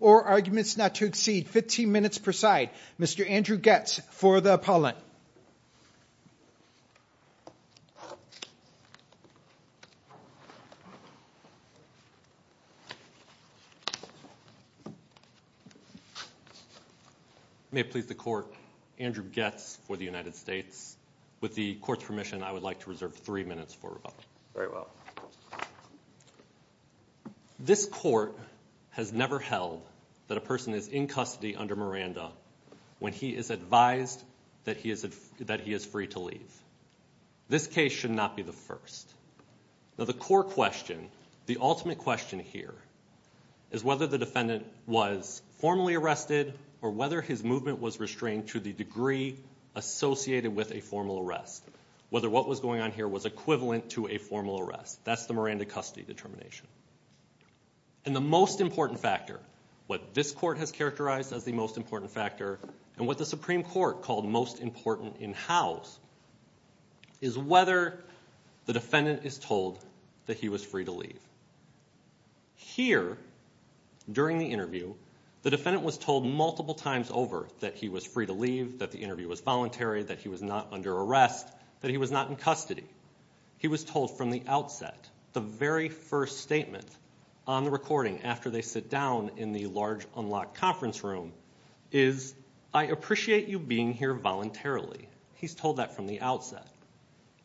or arguments not to exceed 15 minutes per side. Mr. Andrew Goetz for the appellant. May it please the court. Andrew Goetz for the United States. With the court's permission, I would like to reserve three minutes for rebuttal. This court has never held that a person is in custody under Miranda when he is advised that he is free to leave. This case should not be the first. Now the core question, the ultimate question here, is whether the defendant was formally arrested or whether his movement was restrained to the degree associated with a formal arrest. Whether what was going on here was equivalent to a formal arrest. That's the Miranda custody determination. And the most important factor, what this court has characterized as the most important factor, and what the Supreme Court called most important in house, is whether the defendant is told that he was free to leave. Here, during the interview, the defendant was told multiple times over that he was free to leave, that the interview was voluntary, that he was not under arrest, that he was not in custody. He was told from the outset, the very first statement on the recording after they sit down in the large unlocked conference room is, I appreciate you being here voluntarily. He's told that from the outset.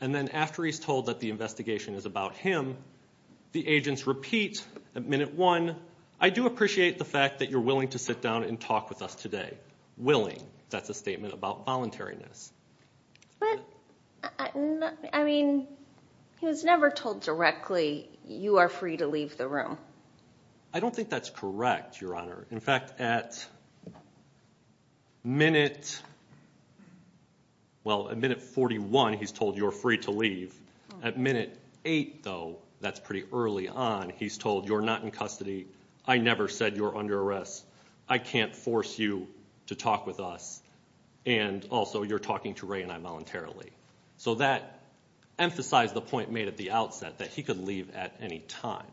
And then after he's told that the investigation is about him, the agents repeat at minute one, I do appreciate the fact that you're willing to sit down and talk with us today. Willing, that's a statement about voluntariness. But, I mean, he was never told directly, you are free to leave the room. I don't think that's correct, Your Honor. In fact, at minute 41, he's told you're free to leave. At minute eight, though, that's pretty early on, he's told you're not in custody. I never said you're under arrest. I can't force you to talk with us. And also, you're talking to Ray and I voluntarily. So that emphasized the point made at the outset, that he could leave at any time.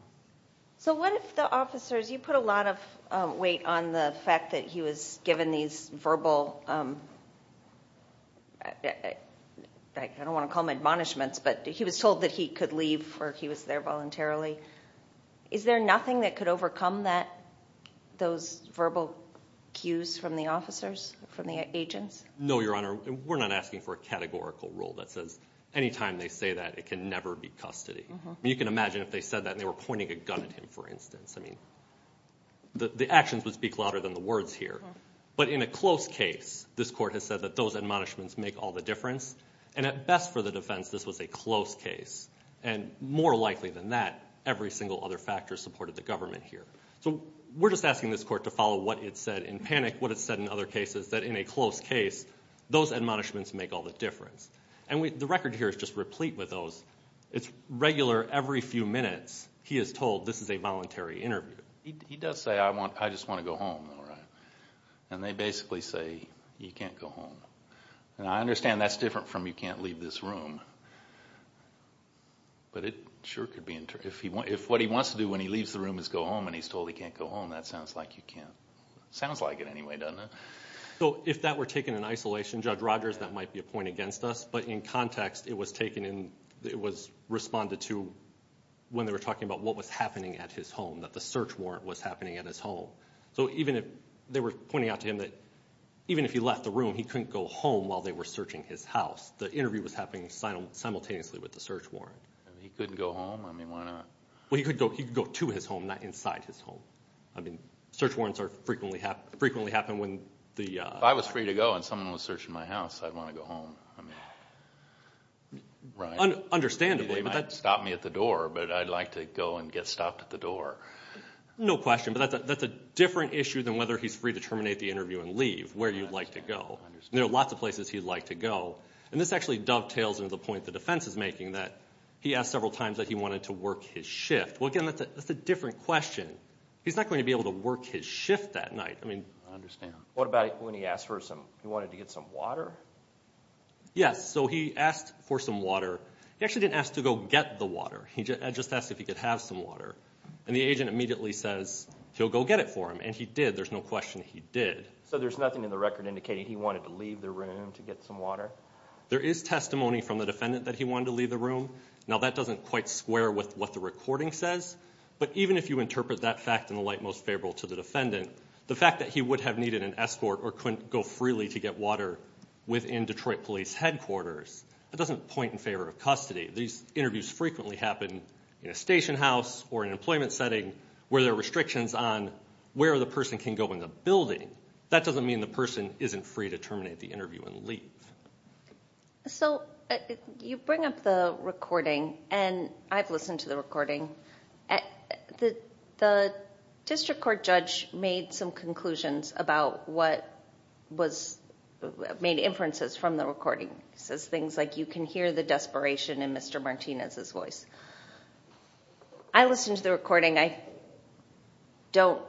So what if the officers, you put a lot of weight on the fact that he was given these verbal, I don't want to call them admonishments, but he was told that he could leave or he was there voluntarily. Is there nothing that could overcome those verbal cues from the officers, from the agents? No, Your Honor. We're not asking for a categorical rule that says any time they say that, it can never be custody. You can imagine if they said that and they were pointing a gun at him, for instance. I mean, the actions would speak louder than the words here. But in a close case, this Court has said that those admonishments make all the difference. And at best for the defense, this was a close case. And more likely than that, every single other factor supported the government here. So we're just asking this Court to follow what it said in Panic, what it said in other cases, that in a close case, those admonishments make all the difference. And the record here is just replete with those. It's regular every few minutes he is told this is a voluntary interview. He does say, I just want to go home, though, right? And they basically say, you can't go home. And I understand that's different from you can't leave this room. But it sure could be. If what he wants to do when he leaves the room is go home and he's told he can't go home, that sounds like you can't. Sounds like it anyway, doesn't it? So if that were taken in isolation, Judge Rogers, that might be a point against us. But in context, it was taken and it was responded to when they were talking about what was happening at his home, that the search warrant was happening at his home. So even if they were pointing out to him that even if he left the room, he couldn't go home while they were searching his house. The interview was happening simultaneously with the search warrant. He couldn't go home? I mean, why not? Well, he could go to his home, not inside his home. I mean, search warrants frequently happen when the – If I was free to go and someone was searching my house, I'd want to go home. I mean, right? Understandably. He might stop me at the door, but I'd like to go and get stopped at the door. No question. But that's a different issue than whether he's free to terminate the interview and leave, where you'd like to go. There are lots of places he'd like to go. And this actually dovetails into the point the defense is making, that he asked several times that he wanted to work his shift. Well, again, that's a different question. He's not going to be able to work his shift that night. I mean – I understand. What about when he asked for some – he wanted to get some water? Yes, so he asked for some water. He actually didn't ask to go get the water. He just asked if he could have some water. And the agent immediately says, he'll go get it for him. And he did. There's no question he did. So there's nothing in the record indicating he wanted to leave the room to get some water? There is testimony from the defendant that he wanted to leave the room. Now, that doesn't quite square with what the recording says. But even if you interpret that fact in the light most favorable to the defendant, the fact that he would have needed an escort or couldn't go freely to get water within Detroit Police Headquarters, that doesn't point in favor of custody. These interviews frequently happen in a station house or an employment setting where there are restrictions on where the person can go in the building. That doesn't mean the person isn't free to terminate the interview and leave. So you bring up the recording, and I've listened to the recording. The district court judge made some conclusions about what was – made inferences from the recording. It says things like, you can hear the desperation in Mr. Martinez's voice. I listened to the recording. I don't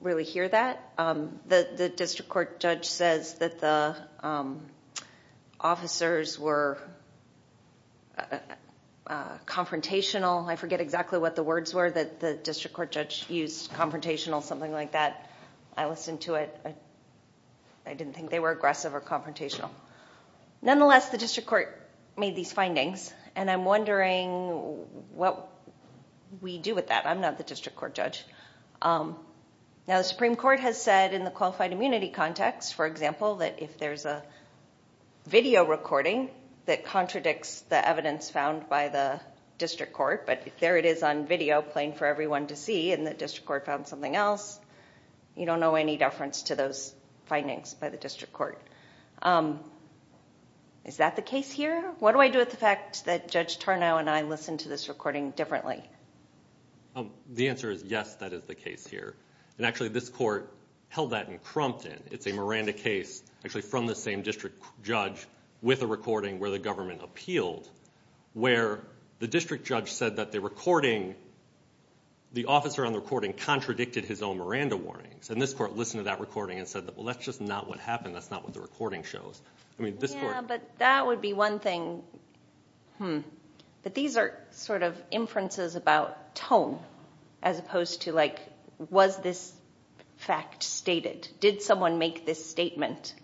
really hear that. The district court judge says that the officers were confrontational. I forget exactly what the words were that the district court judge used, confrontational, something like that. I listened to it. I didn't think they were aggressive or confrontational. Nonetheless, the district court made these findings, and I'm wondering what we do with that. I'm not the district court judge. Now, the Supreme Court has said in the qualified immunity context, for example, that if there's a video recording that contradicts the evidence found by the district court, but there it is on video playing for everyone to see and the district court found something else, you don't owe any deference to those findings by the district court. Is that the case here? What do I do with the fact that Judge Tarnow and I listened to this recording differently? The answer is yes, that is the case here. Actually, this court held that in Crompton. It's a Miranda case actually from the same district judge with a recording where the government appealed, where the district judge said that the recording, the officer on the recording, contradicted his own Miranda warnings. This court listened to that recording and said, well, that's just not what happened. That's not what the recording shows. Yeah, but that would be one thing. But these are sort of inferences about tone as opposed to was this fact stated? Did someone make this statement?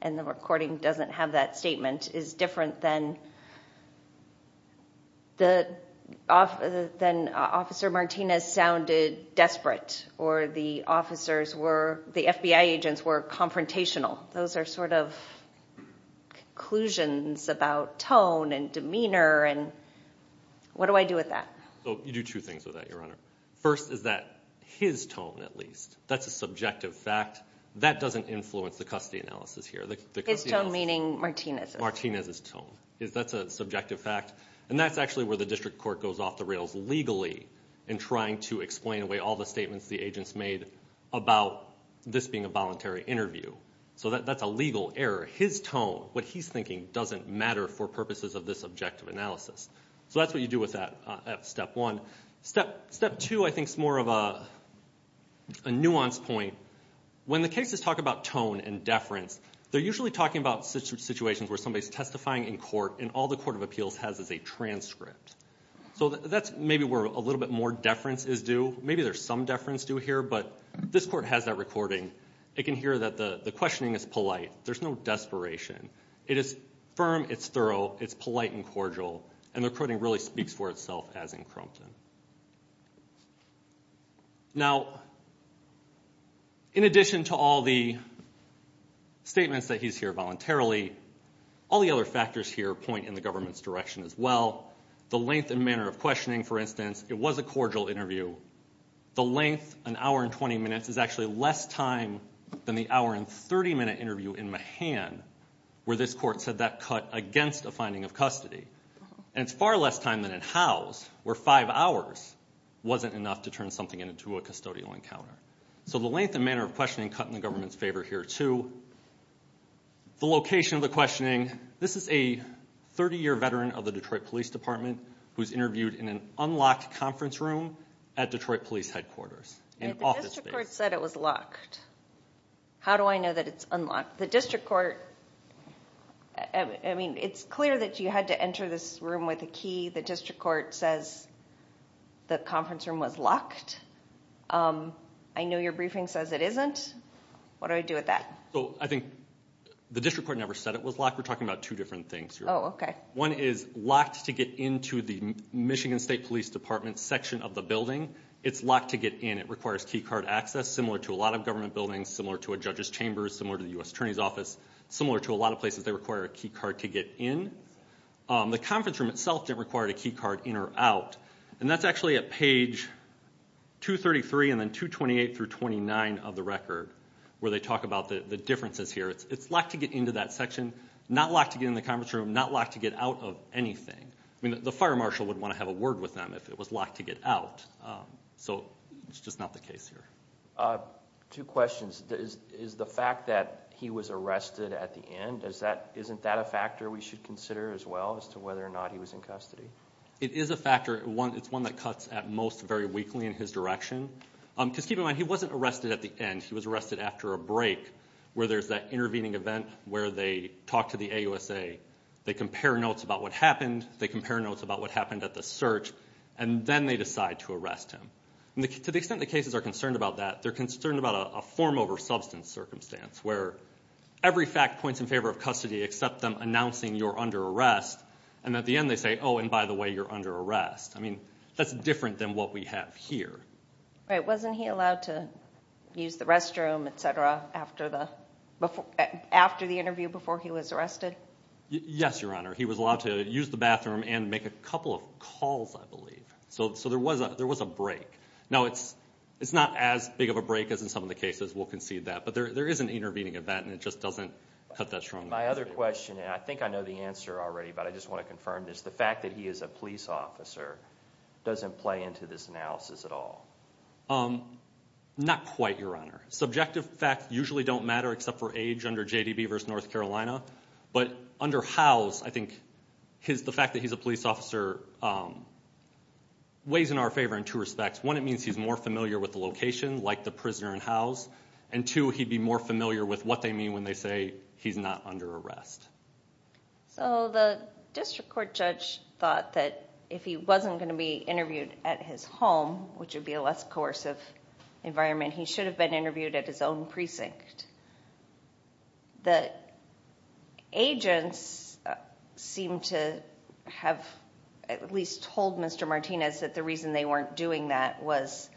And the recording doesn't have that statement is different than Officer Martinez sounded desperate or the FBI agents were confrontational. Those are sort of conclusions about tone and demeanor and what do I do with that? You do two things with that, Your Honor. First is that his tone at least, that's a subjective fact. That doesn't influence the custody analysis here. His tone meaning Martinez's? Martinez's tone. That's a subjective fact. And that's actually where the district court goes off the rails legally in trying to explain away all the statements the agents made about this being a voluntary interview. So that's a legal error. His tone, what he's thinking, doesn't matter for purposes of this objective analysis. So that's what you do with that at step one. Step two I think is more of a nuanced point. When the cases talk about tone and deference, they're usually talking about situations where somebody's testifying in court and all the court of appeals has is a transcript. So that's maybe where a little bit more deference is due. Maybe there's some deference due here, but this court has that recording. It can hear that the questioning is polite. There's no desperation. It is firm, it's thorough, it's polite and cordial, and the recording really speaks for itself as in Crompton. Now, in addition to all the statements that he's here voluntarily, all the other factors here point in the government's direction as well. The length and manner of questioning, for instance, it was a cordial interview. The length, an hour and 20 minutes, is actually less time than the hour and 30-minute interview in Mahan where this court said that cut against a finding of custody. And it's far less time than in Howes where five hours wasn't enough to turn something into a custodial encounter. So the length and manner of questioning cut in the government's favor here too. The location of the questioning, this is a 30-year veteran of the Detroit Police Department who's interviewed in an unlocked conference room at Detroit Police headquarters. The district court said it was locked. How do I know that it's unlocked? The district court, I mean, it's clear that you had to enter this room with a key. The district court says the conference room was locked. I know your briefing says it isn't. What do I do with that? I think the district court never said it was locked. We're talking about two different things here. One is locked to get into the Michigan State Police Department section of the building. It's locked to get in. It requires key card access similar to a lot of government buildings, similar to a judge's chamber, similar to the U.S. Attorney's Office, similar to a lot of places they require a key card to get in. The conference room itself didn't require a key card in or out, and that's actually at page 233 and then 228 through 29 of the record where they talk about the differences here. It's locked to get into that section, not locked to get in the conference room, not locked to get out of anything. I mean, the fire marshal would want to have a word with them if it was locked to get out. So it's just not the case here. Two questions. Is the fact that he was arrested at the end, isn't that a factor we should consider as well as to whether or not he was in custody? It is a factor. It's one that cuts at most very weakly in his direction. Just keep in mind, he wasn't arrested at the end. He was arrested after a break where there's that intervening event where they talk to the AUSA. They compare notes about what happened. They compare notes about what happened at the search, and then they decide to arrest him. To the extent the cases are concerned about that, they're concerned about a form over substance circumstance where every fact points in favor of custody except them announcing you're under arrest, and at the end they say, oh, and by the way, you're under arrest. I mean, that's different than what we have here. Wasn't he allowed to use the restroom, et cetera, after the interview before he was arrested? Yes, Your Honor. He was allowed to use the bathroom and make a couple of calls, I believe. So there was a break. Now, it's not as big of a break as in some of the cases. We'll concede that. But there is an intervening event, and it just doesn't cut that strongly. My other question, and I think I know the answer already, but I just want to confirm this. The fact that he is a police officer doesn't play into this analysis at all? Not quite, Your Honor. Subjective facts usually don't matter except for age under JDB v. North Carolina. But under Howes, I think the fact that he's a police officer weighs in our favor in two respects. One, it means he's more familiar with the location, like the prisoner in Howes, and two, he'd be more familiar with what they mean when they say he's not under arrest. So the district court judge thought that if he wasn't going to be interviewed at his home, which would be a less coercive environment, he should have been interviewed at his own precinct. The agents seem to have at least told Mr. Martinez that the reason they weren't doing that was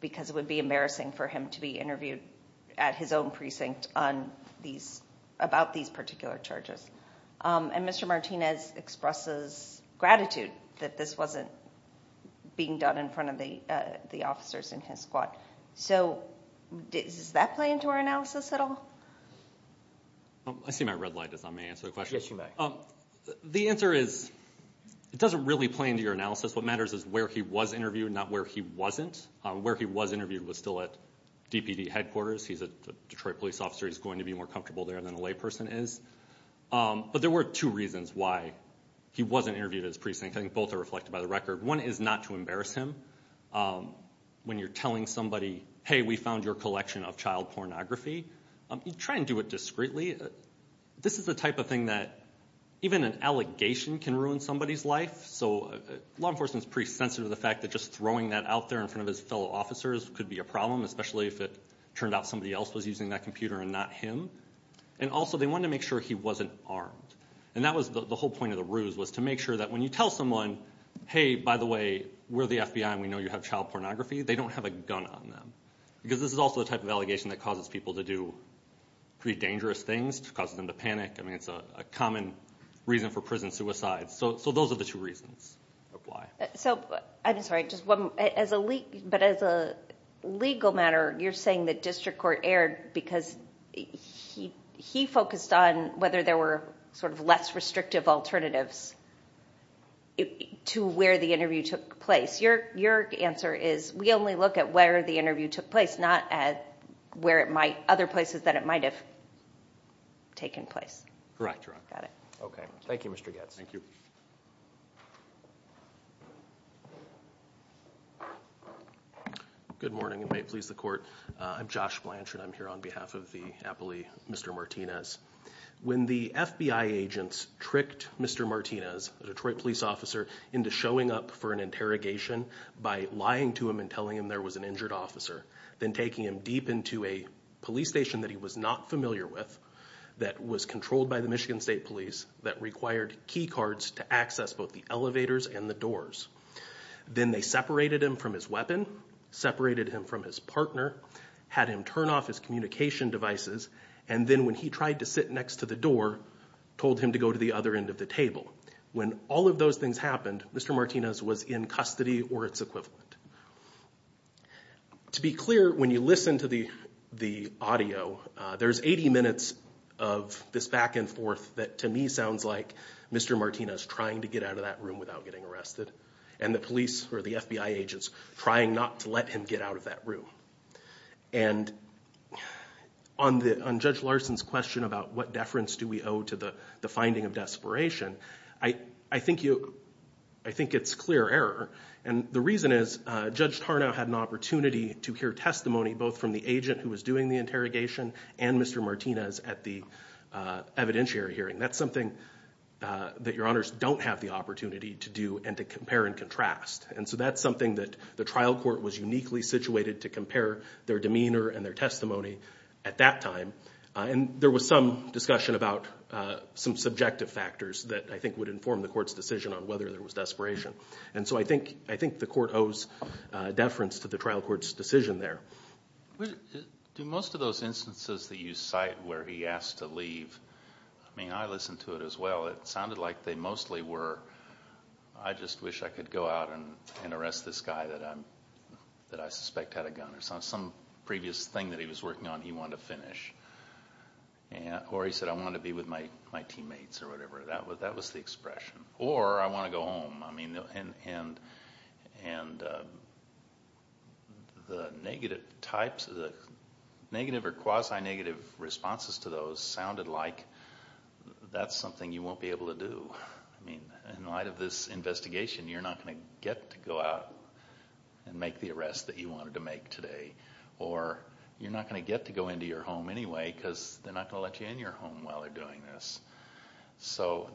because it would be embarrassing for him to be interviewed at his own precinct about these particular charges. And Mr. Martinez expresses gratitude that this wasn't being done in front of the officers in his squad. So does that play into our analysis at all? I see my red light as I may answer the question. Yes, you may. The answer is it doesn't really play into your analysis. What matters is where he was interviewed, not where he wasn't. Where he was interviewed was still at DPD headquarters. He's a Detroit police officer. He's going to be more comfortable there than a layperson is. But there were two reasons why he wasn't interviewed at his precinct. I think both are reflected by the record. One is not to embarrass him when you're telling somebody, hey, we found your collection of child pornography. Try and do it discreetly. This is the type of thing that even an allegation can ruin somebody's life. So law enforcement is pretty sensitive to the fact that just throwing that out there in front of his fellow officers could be a problem, especially if it turned out somebody else was using that computer and not him. And also they wanted to make sure he wasn't armed. And that was the whole point of the ruse was to make sure that when you tell someone, hey, by the way, we're the FBI and we know you have child pornography, they don't have a gun on them. Because this is also the type of allegation that causes people to do pretty dangerous things, causes them to panic. I mean, it's a common reason for prison suicide. So those are the two reasons of why. So I'm sorry, but as a legal matter, you're saying the district court erred because he focused on whether there were sort of less restrictive alternatives to where the interview took place. Your answer is we only look at where the interview took place, not at other places that it might have taken place. Correct. Got it. Okay. Thank you, Mr. Goetz. Thank you. Good morning, and may it please the Court. I'm Josh Blanchard. I'm here on behalf of the appellee, Mr. Martinez. When the FBI agents tricked Mr. Martinez, a Detroit police officer, into showing up for an interrogation by lying to him and telling him there was an injured officer, then taking him deep into a police station that he was not familiar with, that was controlled by the Michigan State Police, that required key cards to access both the elevators and the doors, then they separated him from his weapon, separated him from his partner, had him turn off his communication devices, and then when he tried to sit next to the door, told him to go to the other end of the table. When all of those things happened, Mr. Martinez was in custody or its equivalent. To be clear, when you listen to the audio, there's 80 minutes of this back and forth that, to me, sounds like Mr. Martinez trying to get out of that room without getting arrested, and the police or the FBI agents trying not to let him get out of that room. And on Judge Larson's question about what deference do we owe to the finding of desperation, I think it's clear error. And the reason is Judge Tarnow had an opportunity to hear testimony both from the agent who was doing the interrogation and Mr. Martinez at the evidentiary hearing. That's something that your honors don't have the opportunity to do and to compare and contrast. And so that's something that the trial court was uniquely situated to compare their demeanor and their testimony at that time. And there was some discussion about some subjective factors that I think would inform the court's decision on whether there was desperation. And so I think the court owes deference to the trial court's decision there. Do most of those instances that you cite where he asked to leave, I mean, I listened to it as well. It sounded like they mostly were, I just wish I could go out and arrest this guy that I suspect had a gun or some previous thing that he was working on he wanted to finish. Or he said, I want to be with my teammates or whatever. That was the expression. Or I want to go home. And the negative types, the negative or quasi-negative responses to those sounded like that's something you won't be able to do. I mean, in light of this investigation, you're not going to get to go out and make the arrest that you wanted to make today. Or you're not going to get to go into your home anyway because they're not going to let you in your home while they're doing this. So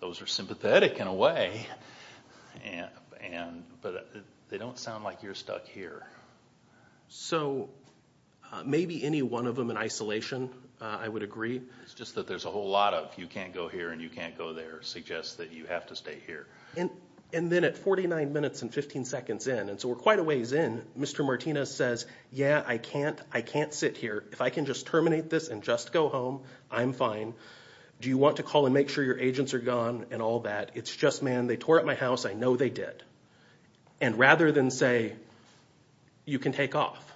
those are sympathetic in a way, but they don't sound like you're stuck here. So maybe any one of them in isolation, I would agree. It's just that there's a whole lot of you can't go here and you can't go there suggests that you have to stay here. And then at 49 minutes and 15 seconds in, and so we're quite a ways in, Mr. Martinez says, yeah, I can't sit here. If I can just terminate this and just go home, I'm fine. Do you want to call and make sure your agents are gone and all that? It's just, man, they tore up my house. I know they did. And rather than say, you can take off,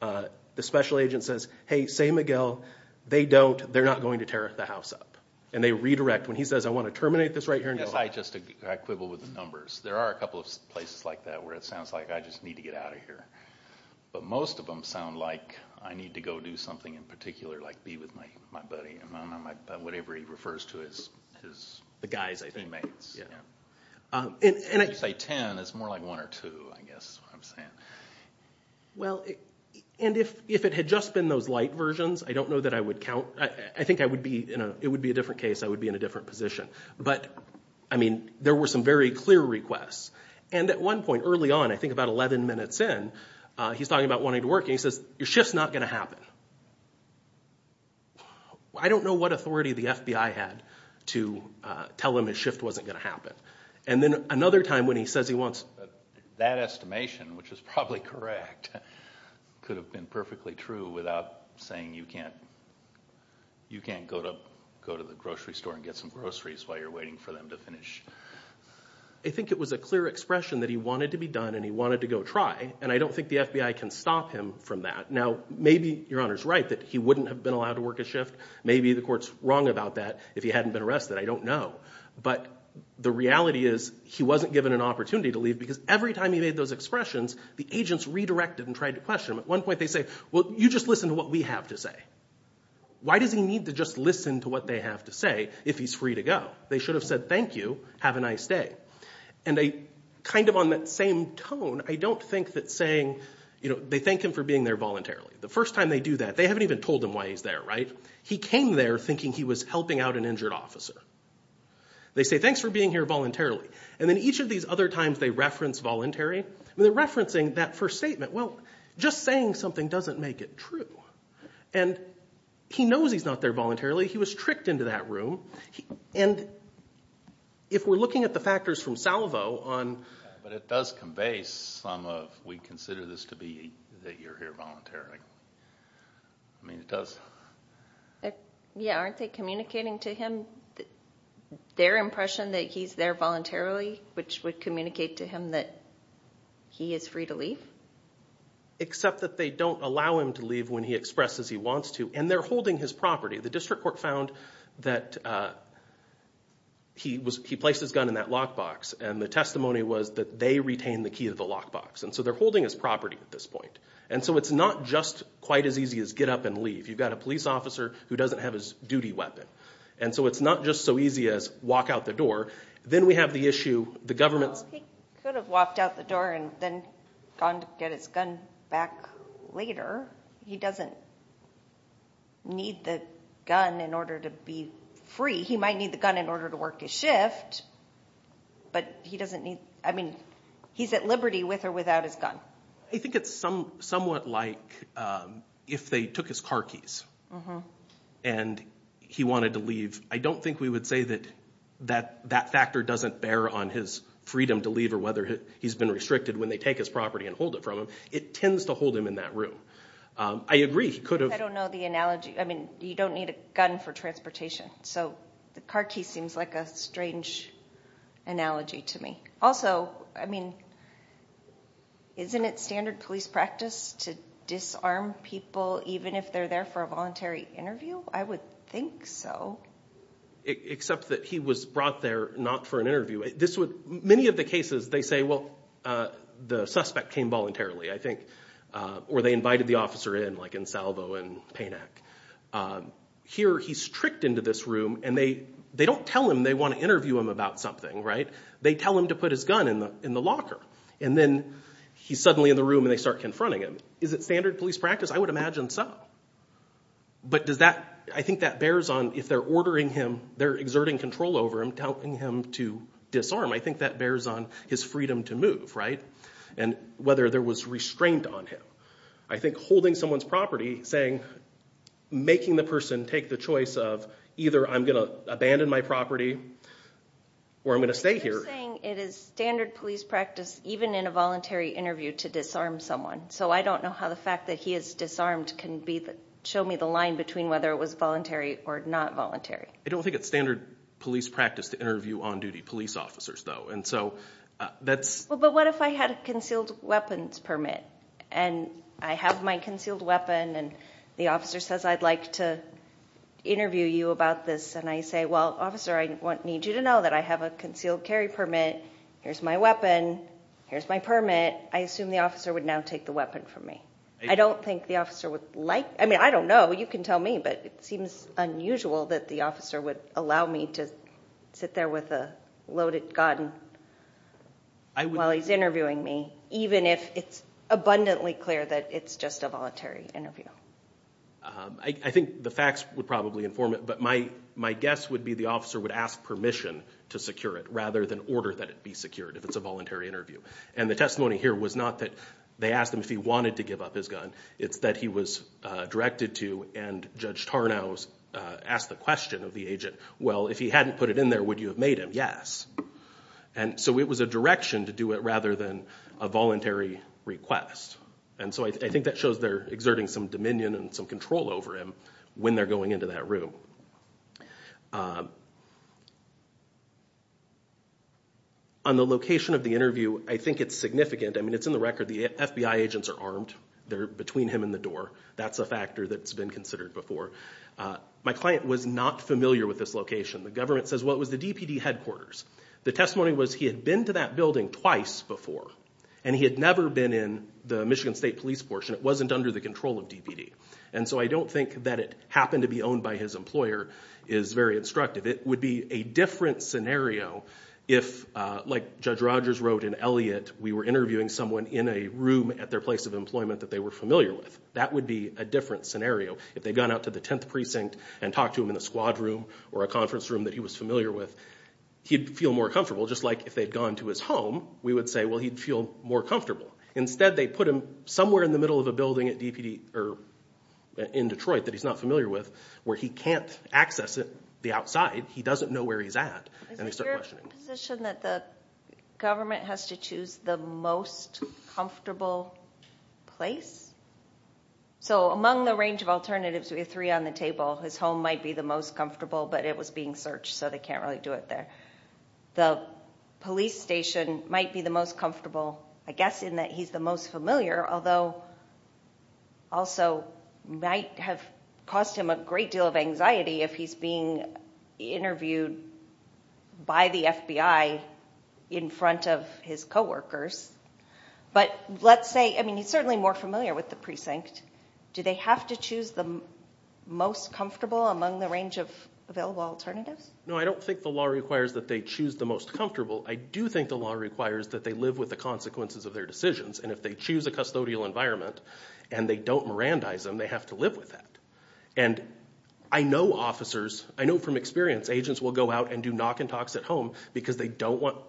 the special agent says, hey, say, Miguel, they don't. They're not going to tear the house up. And they redirect when he says, I want to terminate this right here and go home. Yes, I just quibble with the numbers. There are a couple of places like that where it sounds like I just need to get out of here. But most of them sound like I need to go do something in particular, like be with my buddy, whatever he refers to as his teammates. If you say 10, it's more like one or two, I guess is what I'm saying. Well, and if it had just been those light versions, I don't know that I would count. I think it would be a different case. I would be in a different position. But, I mean, there were some very clear requests. And at one point, early on, I think about 11 minutes in, he's talking about wanting to work. And he says, your shift's not going to happen. I don't know what authority the FBI had to tell him his shift wasn't going to happen. And then another time when he says he wants to work. That estimation, which is probably correct, could have been perfectly true without saying you can't go to the grocery store and get some groceries while you're waiting for them to finish. I think it was a clear expression that he wanted to be done and he wanted to go try. And I don't think the FBI can stop him from that. Now, maybe your Honor's right that he wouldn't have been allowed to work a shift. Maybe the court's wrong about that if he hadn't been arrested. I don't know. But the reality is he wasn't given an opportunity to leave because every time he made those expressions, the agents redirected and tried to question him. At one point, they say, well, you just listen to what we have to say. Why does he need to just listen to what they have to say if he's free to go? They should have said thank you, have a nice day. And kind of on that same tone, I don't think that saying, you know, they thank him for being there voluntarily. The first time they do that, they haven't even told him why he's there, right? He came there thinking he was helping out an injured officer. They say thanks for being here voluntarily. And then each of these other times they reference voluntary, they're referencing that first statement. Well, just saying something doesn't make it true. And he knows he's not there voluntarily. He was tricked into that room. And if we're looking at the factors from Salvo on – But it does convey some of we consider this to be that you're here voluntarily. I mean, it does. Yeah, aren't they communicating to him their impression that he's there voluntarily, which would communicate to him that he is free to leave? Except that they don't allow him to leave when he expresses he wants to. And they're holding his property. The district court found that he placed his gun in that lockbox. And the testimony was that they retained the key to the lockbox. And so they're holding his property at this point. And so it's not just quite as easy as get up and leave. You've got a police officer who doesn't have his duty weapon. And so it's not just so easy as walk out the door. Then we have the issue, the government's – Well, he could have walked out the door and then gone to get his gun back later. He doesn't need the gun in order to be free. He might need the gun in order to work his shift. But he doesn't need – I mean, he's at liberty with or without his gun. I think it's somewhat like if they took his car keys and he wanted to leave. I don't think we would say that that factor doesn't bear on his freedom to leave or whether he's been restricted when they take his property and hold it from him. It tends to hold him in that room. I agree he could have – I don't know the analogy. I mean, you don't need a gun for transportation. So the car key seems like a strange analogy to me. Also, I mean, isn't it standard police practice to disarm people even if they're there for a voluntary interview? I would think so. Except that he was brought there not for an interview. Many of the cases they say, well, the suspect came voluntarily, I think, or they invited the officer in, like in Salvo and Payneck. Here he's tricked into this room, and they don't tell him they want to interview him about something. They tell him to put his gun in the locker, and then he's suddenly in the room and they start confronting him. Is it standard police practice? I would imagine so. But does that – I think that bears on if they're ordering him, they're exerting control over him, telling him to disarm. I think that bears on his freedom to move, right, and whether there was restraint on him. I think holding someone's property, saying – making the person take the choice of either I'm going to abandon my property or I'm going to stay here. They're saying it is standard police practice even in a voluntary interview to disarm someone. So I don't know how the fact that he is disarmed can show me the line between whether it was voluntary or not voluntary. I don't think it's standard police practice to interview on-duty police officers, though. And so that's – But what if I had a concealed weapons permit, and I have my concealed weapon, and the officer says I'd like to interview you about this, and I say, well, officer, I need you to know that I have a concealed carry permit. Here's my weapon. Here's my permit. I assume the officer would now take the weapon from me. I don't think the officer would like – I mean, I don't know. You can tell me, but it seems unusual that the officer would allow me to sit there with a loaded gun while he's interviewing me, even if it's abundantly clear that it's just a voluntary interview. I think the facts would probably inform it, but my guess would be the officer would ask permission to secure it rather than order that it be secured if it's a voluntary interview. And the testimony here was not that they asked him if he wanted to give up his gun. It's that he was directed to, and Judge Tarnow asked the question of the agent, well, if he hadn't put it in there, would you have made him? Yes. And so it was a direction to do it rather than a voluntary request. And so I think that shows they're exerting some dominion and some control over him when they're going into that room. On the location of the interview, I think it's significant. I mean, it's in the record. The FBI agents are armed. They're between him and the door. That's a factor that's been considered before. My client was not familiar with this location. The government says, well, it was the DPD headquarters. The testimony was he had been to that building twice before, and he had never been in the Michigan State Police portion. It wasn't under the control of DPD. And so I don't think that it happened to be owned by his employer is very instructive. It would be a different scenario if, like Judge Rogers wrote in Elliott, we were interviewing someone in a room at their place of employment that they were familiar with. That would be a different scenario. If they'd gone out to the 10th Precinct and talked to him in a squad room or a conference room that he was familiar with, he'd feel more comfortable. Just like if they'd gone to his home, we would say, well, he'd feel more comfortable. Instead, they put him somewhere in the middle of a building in Detroit that he's not familiar with where he can't access the outside. He doesn't know where he's at, and they start questioning him. Is your position that the government has to choose the most comfortable place? So among the range of alternatives, we have three on the table. His home might be the most comfortable, but it was being searched, so they can't really do it there. The police station might be the most comfortable, I guess, in that he's the most familiar, although also might have caused him a great deal of anxiety if he's being interviewed by the FBI in front of his coworkers. But let's say, I mean, he's certainly more familiar with the precinct. Do they have to choose the most comfortable among the range of available alternatives? No, I don't think the law requires that they choose the most comfortable. I do think the law requires that they live with the consequences of their decisions, and if they choose a custodial environment and they don't Mirandize them, they have to live with that. And I know officers, I know from experience, agents will go out and do knock-and-talks at home because they want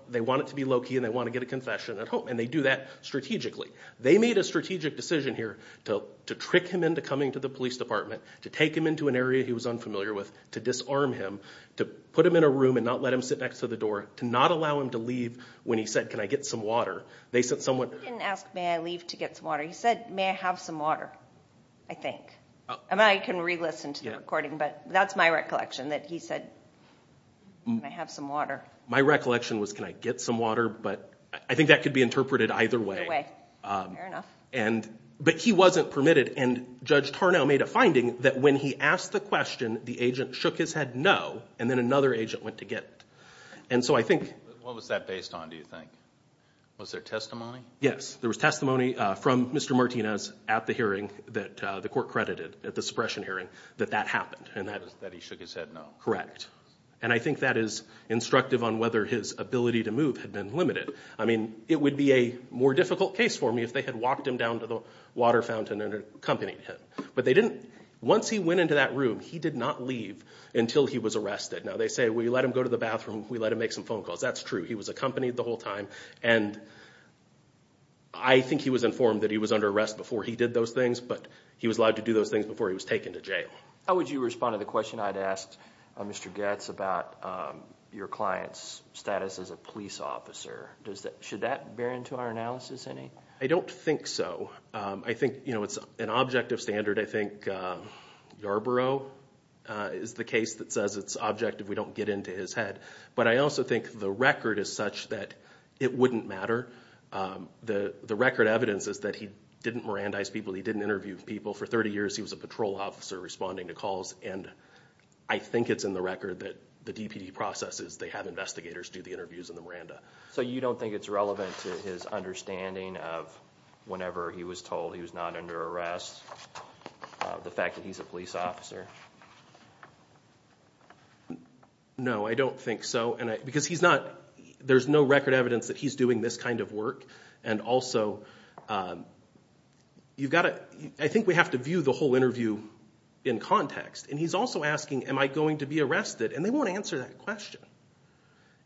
it to be low-key and they want to get a confession at home, and they do that strategically. They made a strategic decision here to trick him into coming to the police department, to take him into an area he was unfamiliar with, to disarm him, to put him in a room and not let him sit next to the door, to not allow him to leave when he said, can I get some water. They sent someone... He didn't ask, may I leave to get some water. He said, may I have some water, I think. I can re-listen to the recording, but that's my recollection, that he said, can I have some water. My recollection was, can I get some water, but I think that could be interpreted either way. Either way, fair enough. But he wasn't permitted, and Judge Tarnow made a finding that when he asked the question, the agent shook his head no, and then another agent went to get it. And so I think... What was that based on, do you think? Was there testimony? Yes, there was testimony from Mr. Martinez at the hearing that the court credited, at the suppression hearing, that that happened. That he shook his head no. Correct. And I think that is instructive on whether his ability to move had been limited. I mean, it would be a more difficult case for me if they had walked him down to the water fountain and accompanied him. But they didn't... Once he went into that room, he did not leave until he was arrested. Now they say, we let him go to the bathroom, we let him make some phone calls. That's true. He was accompanied the whole time. And I think he was informed that he was under arrest before he did those things, but he was allowed to do those things before he was taken to jail. How would you respond to the question I'd asked Mr. Goetz about your client's status as a police officer? Should that bear into our analysis any? I don't think so. I think it's an objective standard. I think Yarborough is the case that says it's objective we don't get into his head. But I also think the record is such that it wouldn't matter. The record evidence is that he didn't Mirandize people, he didn't interview people. For 30 years, he was a patrol officer responding to calls. And I think it's in the record that the DPD processes, they have investigators do the interviews in the Miranda. So you don't think it's relevant to his understanding of whenever he was told he was not under arrest, the fact that he's a police officer? No, I don't think so. Because he's not... There's no record evidence that he's doing this kind of work. And also, you've got to... I think we have to view the whole interview in context. And he's also asking, am I going to be arrested? And they won't answer that question.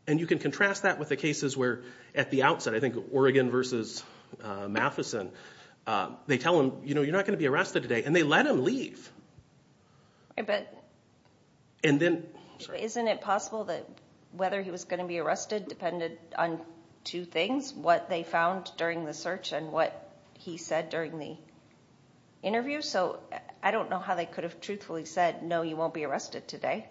And you can contrast that with the cases where at the outset, I think Oregon versus Matheson, they tell him, you know, you're not going to be arrested today. And they let him leave. But... And then... Isn't it possible that whether he was going to be arrested depended on two things, what they found during the search and what he said during the interview? So I don't know how they could have truthfully said, no, you won't be arrested today.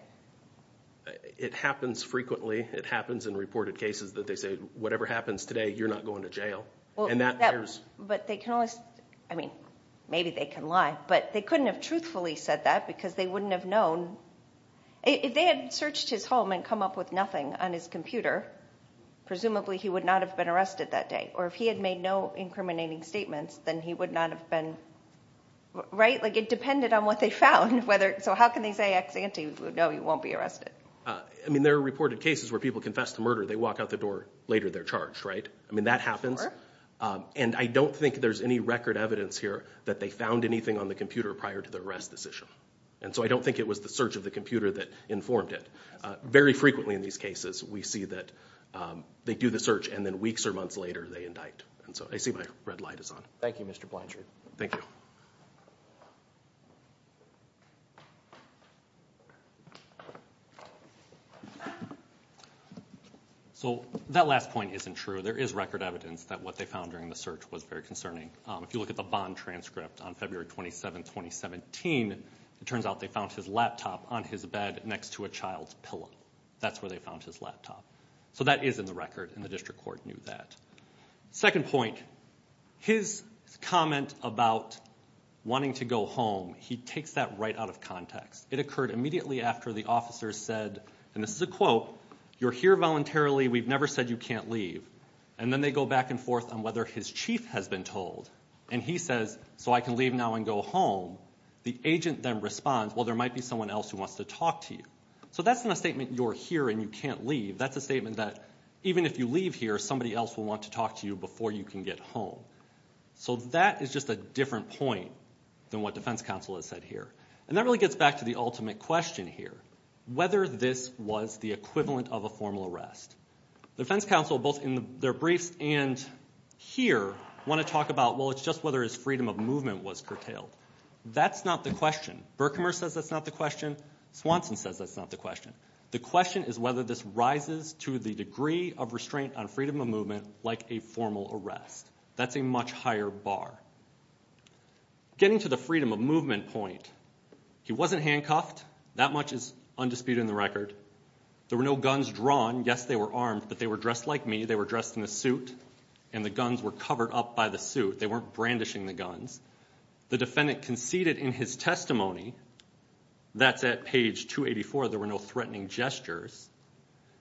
It happens frequently. It happens in reported cases that they say, whatever happens today, you're not going to jail. And that... But they can always... I mean, maybe they can lie. But they couldn't have truthfully said that because they wouldn't have known. If they had searched his home and come up with nothing on his computer, presumably he would not have been arrested that day. Or if he had made no incriminating statements, then he would not have been... Right? Like, it depended on what they found. So how can they say ex ante, no, you won't be arrested? I mean, there are reported cases where people confess to murder. They walk out the door later, they're charged, right? I mean, that happens. And I don't think there's any record evidence here that they found anything on the computer prior to the arrest decision. And so I don't think it was the search of the computer that informed it. Very frequently in these cases we see that they do the search and then weeks or months later they indict. And so I see my red light is on. Thank you, Mr. Blanchard. Thank you. So that last point isn't true. There is record evidence that what they found during the search was very concerning. If you look at the bond transcript on February 27, 2017, it turns out they found his laptop on his bed next to a child's pillow. That's where they found his laptop. So that is in the record, and the district court knew that. Second point, his comment about wanting to go home, he takes that right out of context. It occurred immediately after the officers said, and this is a quote, you're here voluntarily, we've never said you can't leave. And then they go back and forth on whether his chief has been told, and he says, so I can leave now and go home. The agent then responds, well, there might be someone else who wants to talk to you. So that's not a statement, you're here and you can't leave. That's a statement that even if you leave here, somebody else will want to talk to you before you can get home. So that is just a different point than what defense counsel has said here. And that really gets back to the ultimate question here, whether this was the equivalent of a formal arrest. The defense counsel, both in their briefs and here, want to talk about, well, it's just whether his freedom of movement was curtailed. That's not the question. Berkimer says that's not the question. Swanson says that's not the question. The question is whether this rises to the degree of restraint on freedom of movement like a formal arrest. That's a much higher bar. Getting to the freedom of movement point, he wasn't handcuffed. That much is undisputed in the record. There were no guns drawn. Yes, they were armed, but they were dressed like me. They were dressed in a suit, and the guns were covered up by the suit. They weren't brandishing the guns. The defendant conceded in his testimony, that's at page 284, there were no threatening gestures.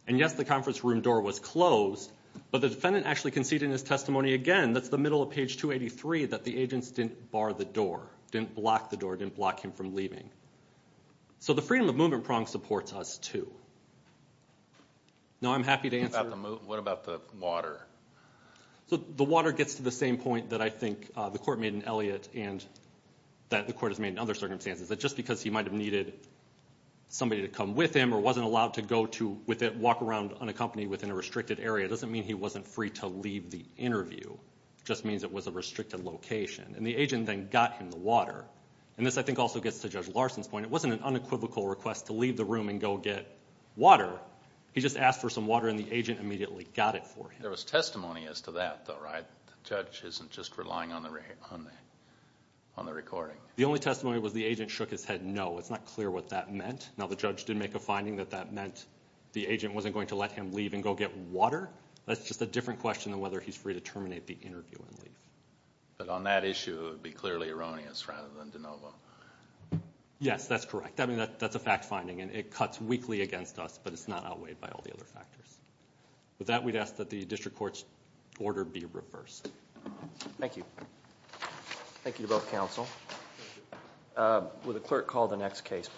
And, yes, the conference room door was closed, but the defendant actually conceded in his testimony again, that's the middle of page 283, that the agents didn't bar the door, didn't block the door, didn't block him from leaving. So the freedom of movement prong supports us, too. Now, I'm happy to answer. What about the water? The water gets to the same point that I think the court made in Elliott and that the court has made in other circumstances, that just because he might have needed somebody to come with him or wasn't allowed to go to walk around unaccompanied within a restricted area doesn't mean he wasn't free to leave the interview. And the agent then got him the water. And this, I think, also gets to Judge Larson's point. It wasn't an unequivocal request to leave the room and go get water. He just asked for some water and the agent immediately got it for him. There was testimony as to that, though, right? The judge isn't just relying on the recording. The only testimony was the agent shook his head no. It's not clear what that meant. Now, the judge did make a finding that that meant the agent wasn't going to let him leave and go get water. That's just a different question than whether he's free to terminate the interview and leave. But on that issue, it would be clearly erroneous rather than de novo. Yes, that's correct. I mean, that's a fact finding, and it cuts weakly against us, but it's not outweighed by all the other factors. With that, we'd ask that the district court's order be reversed. Thank you. Thank you to both counsel. Will the clerk call the next case, please?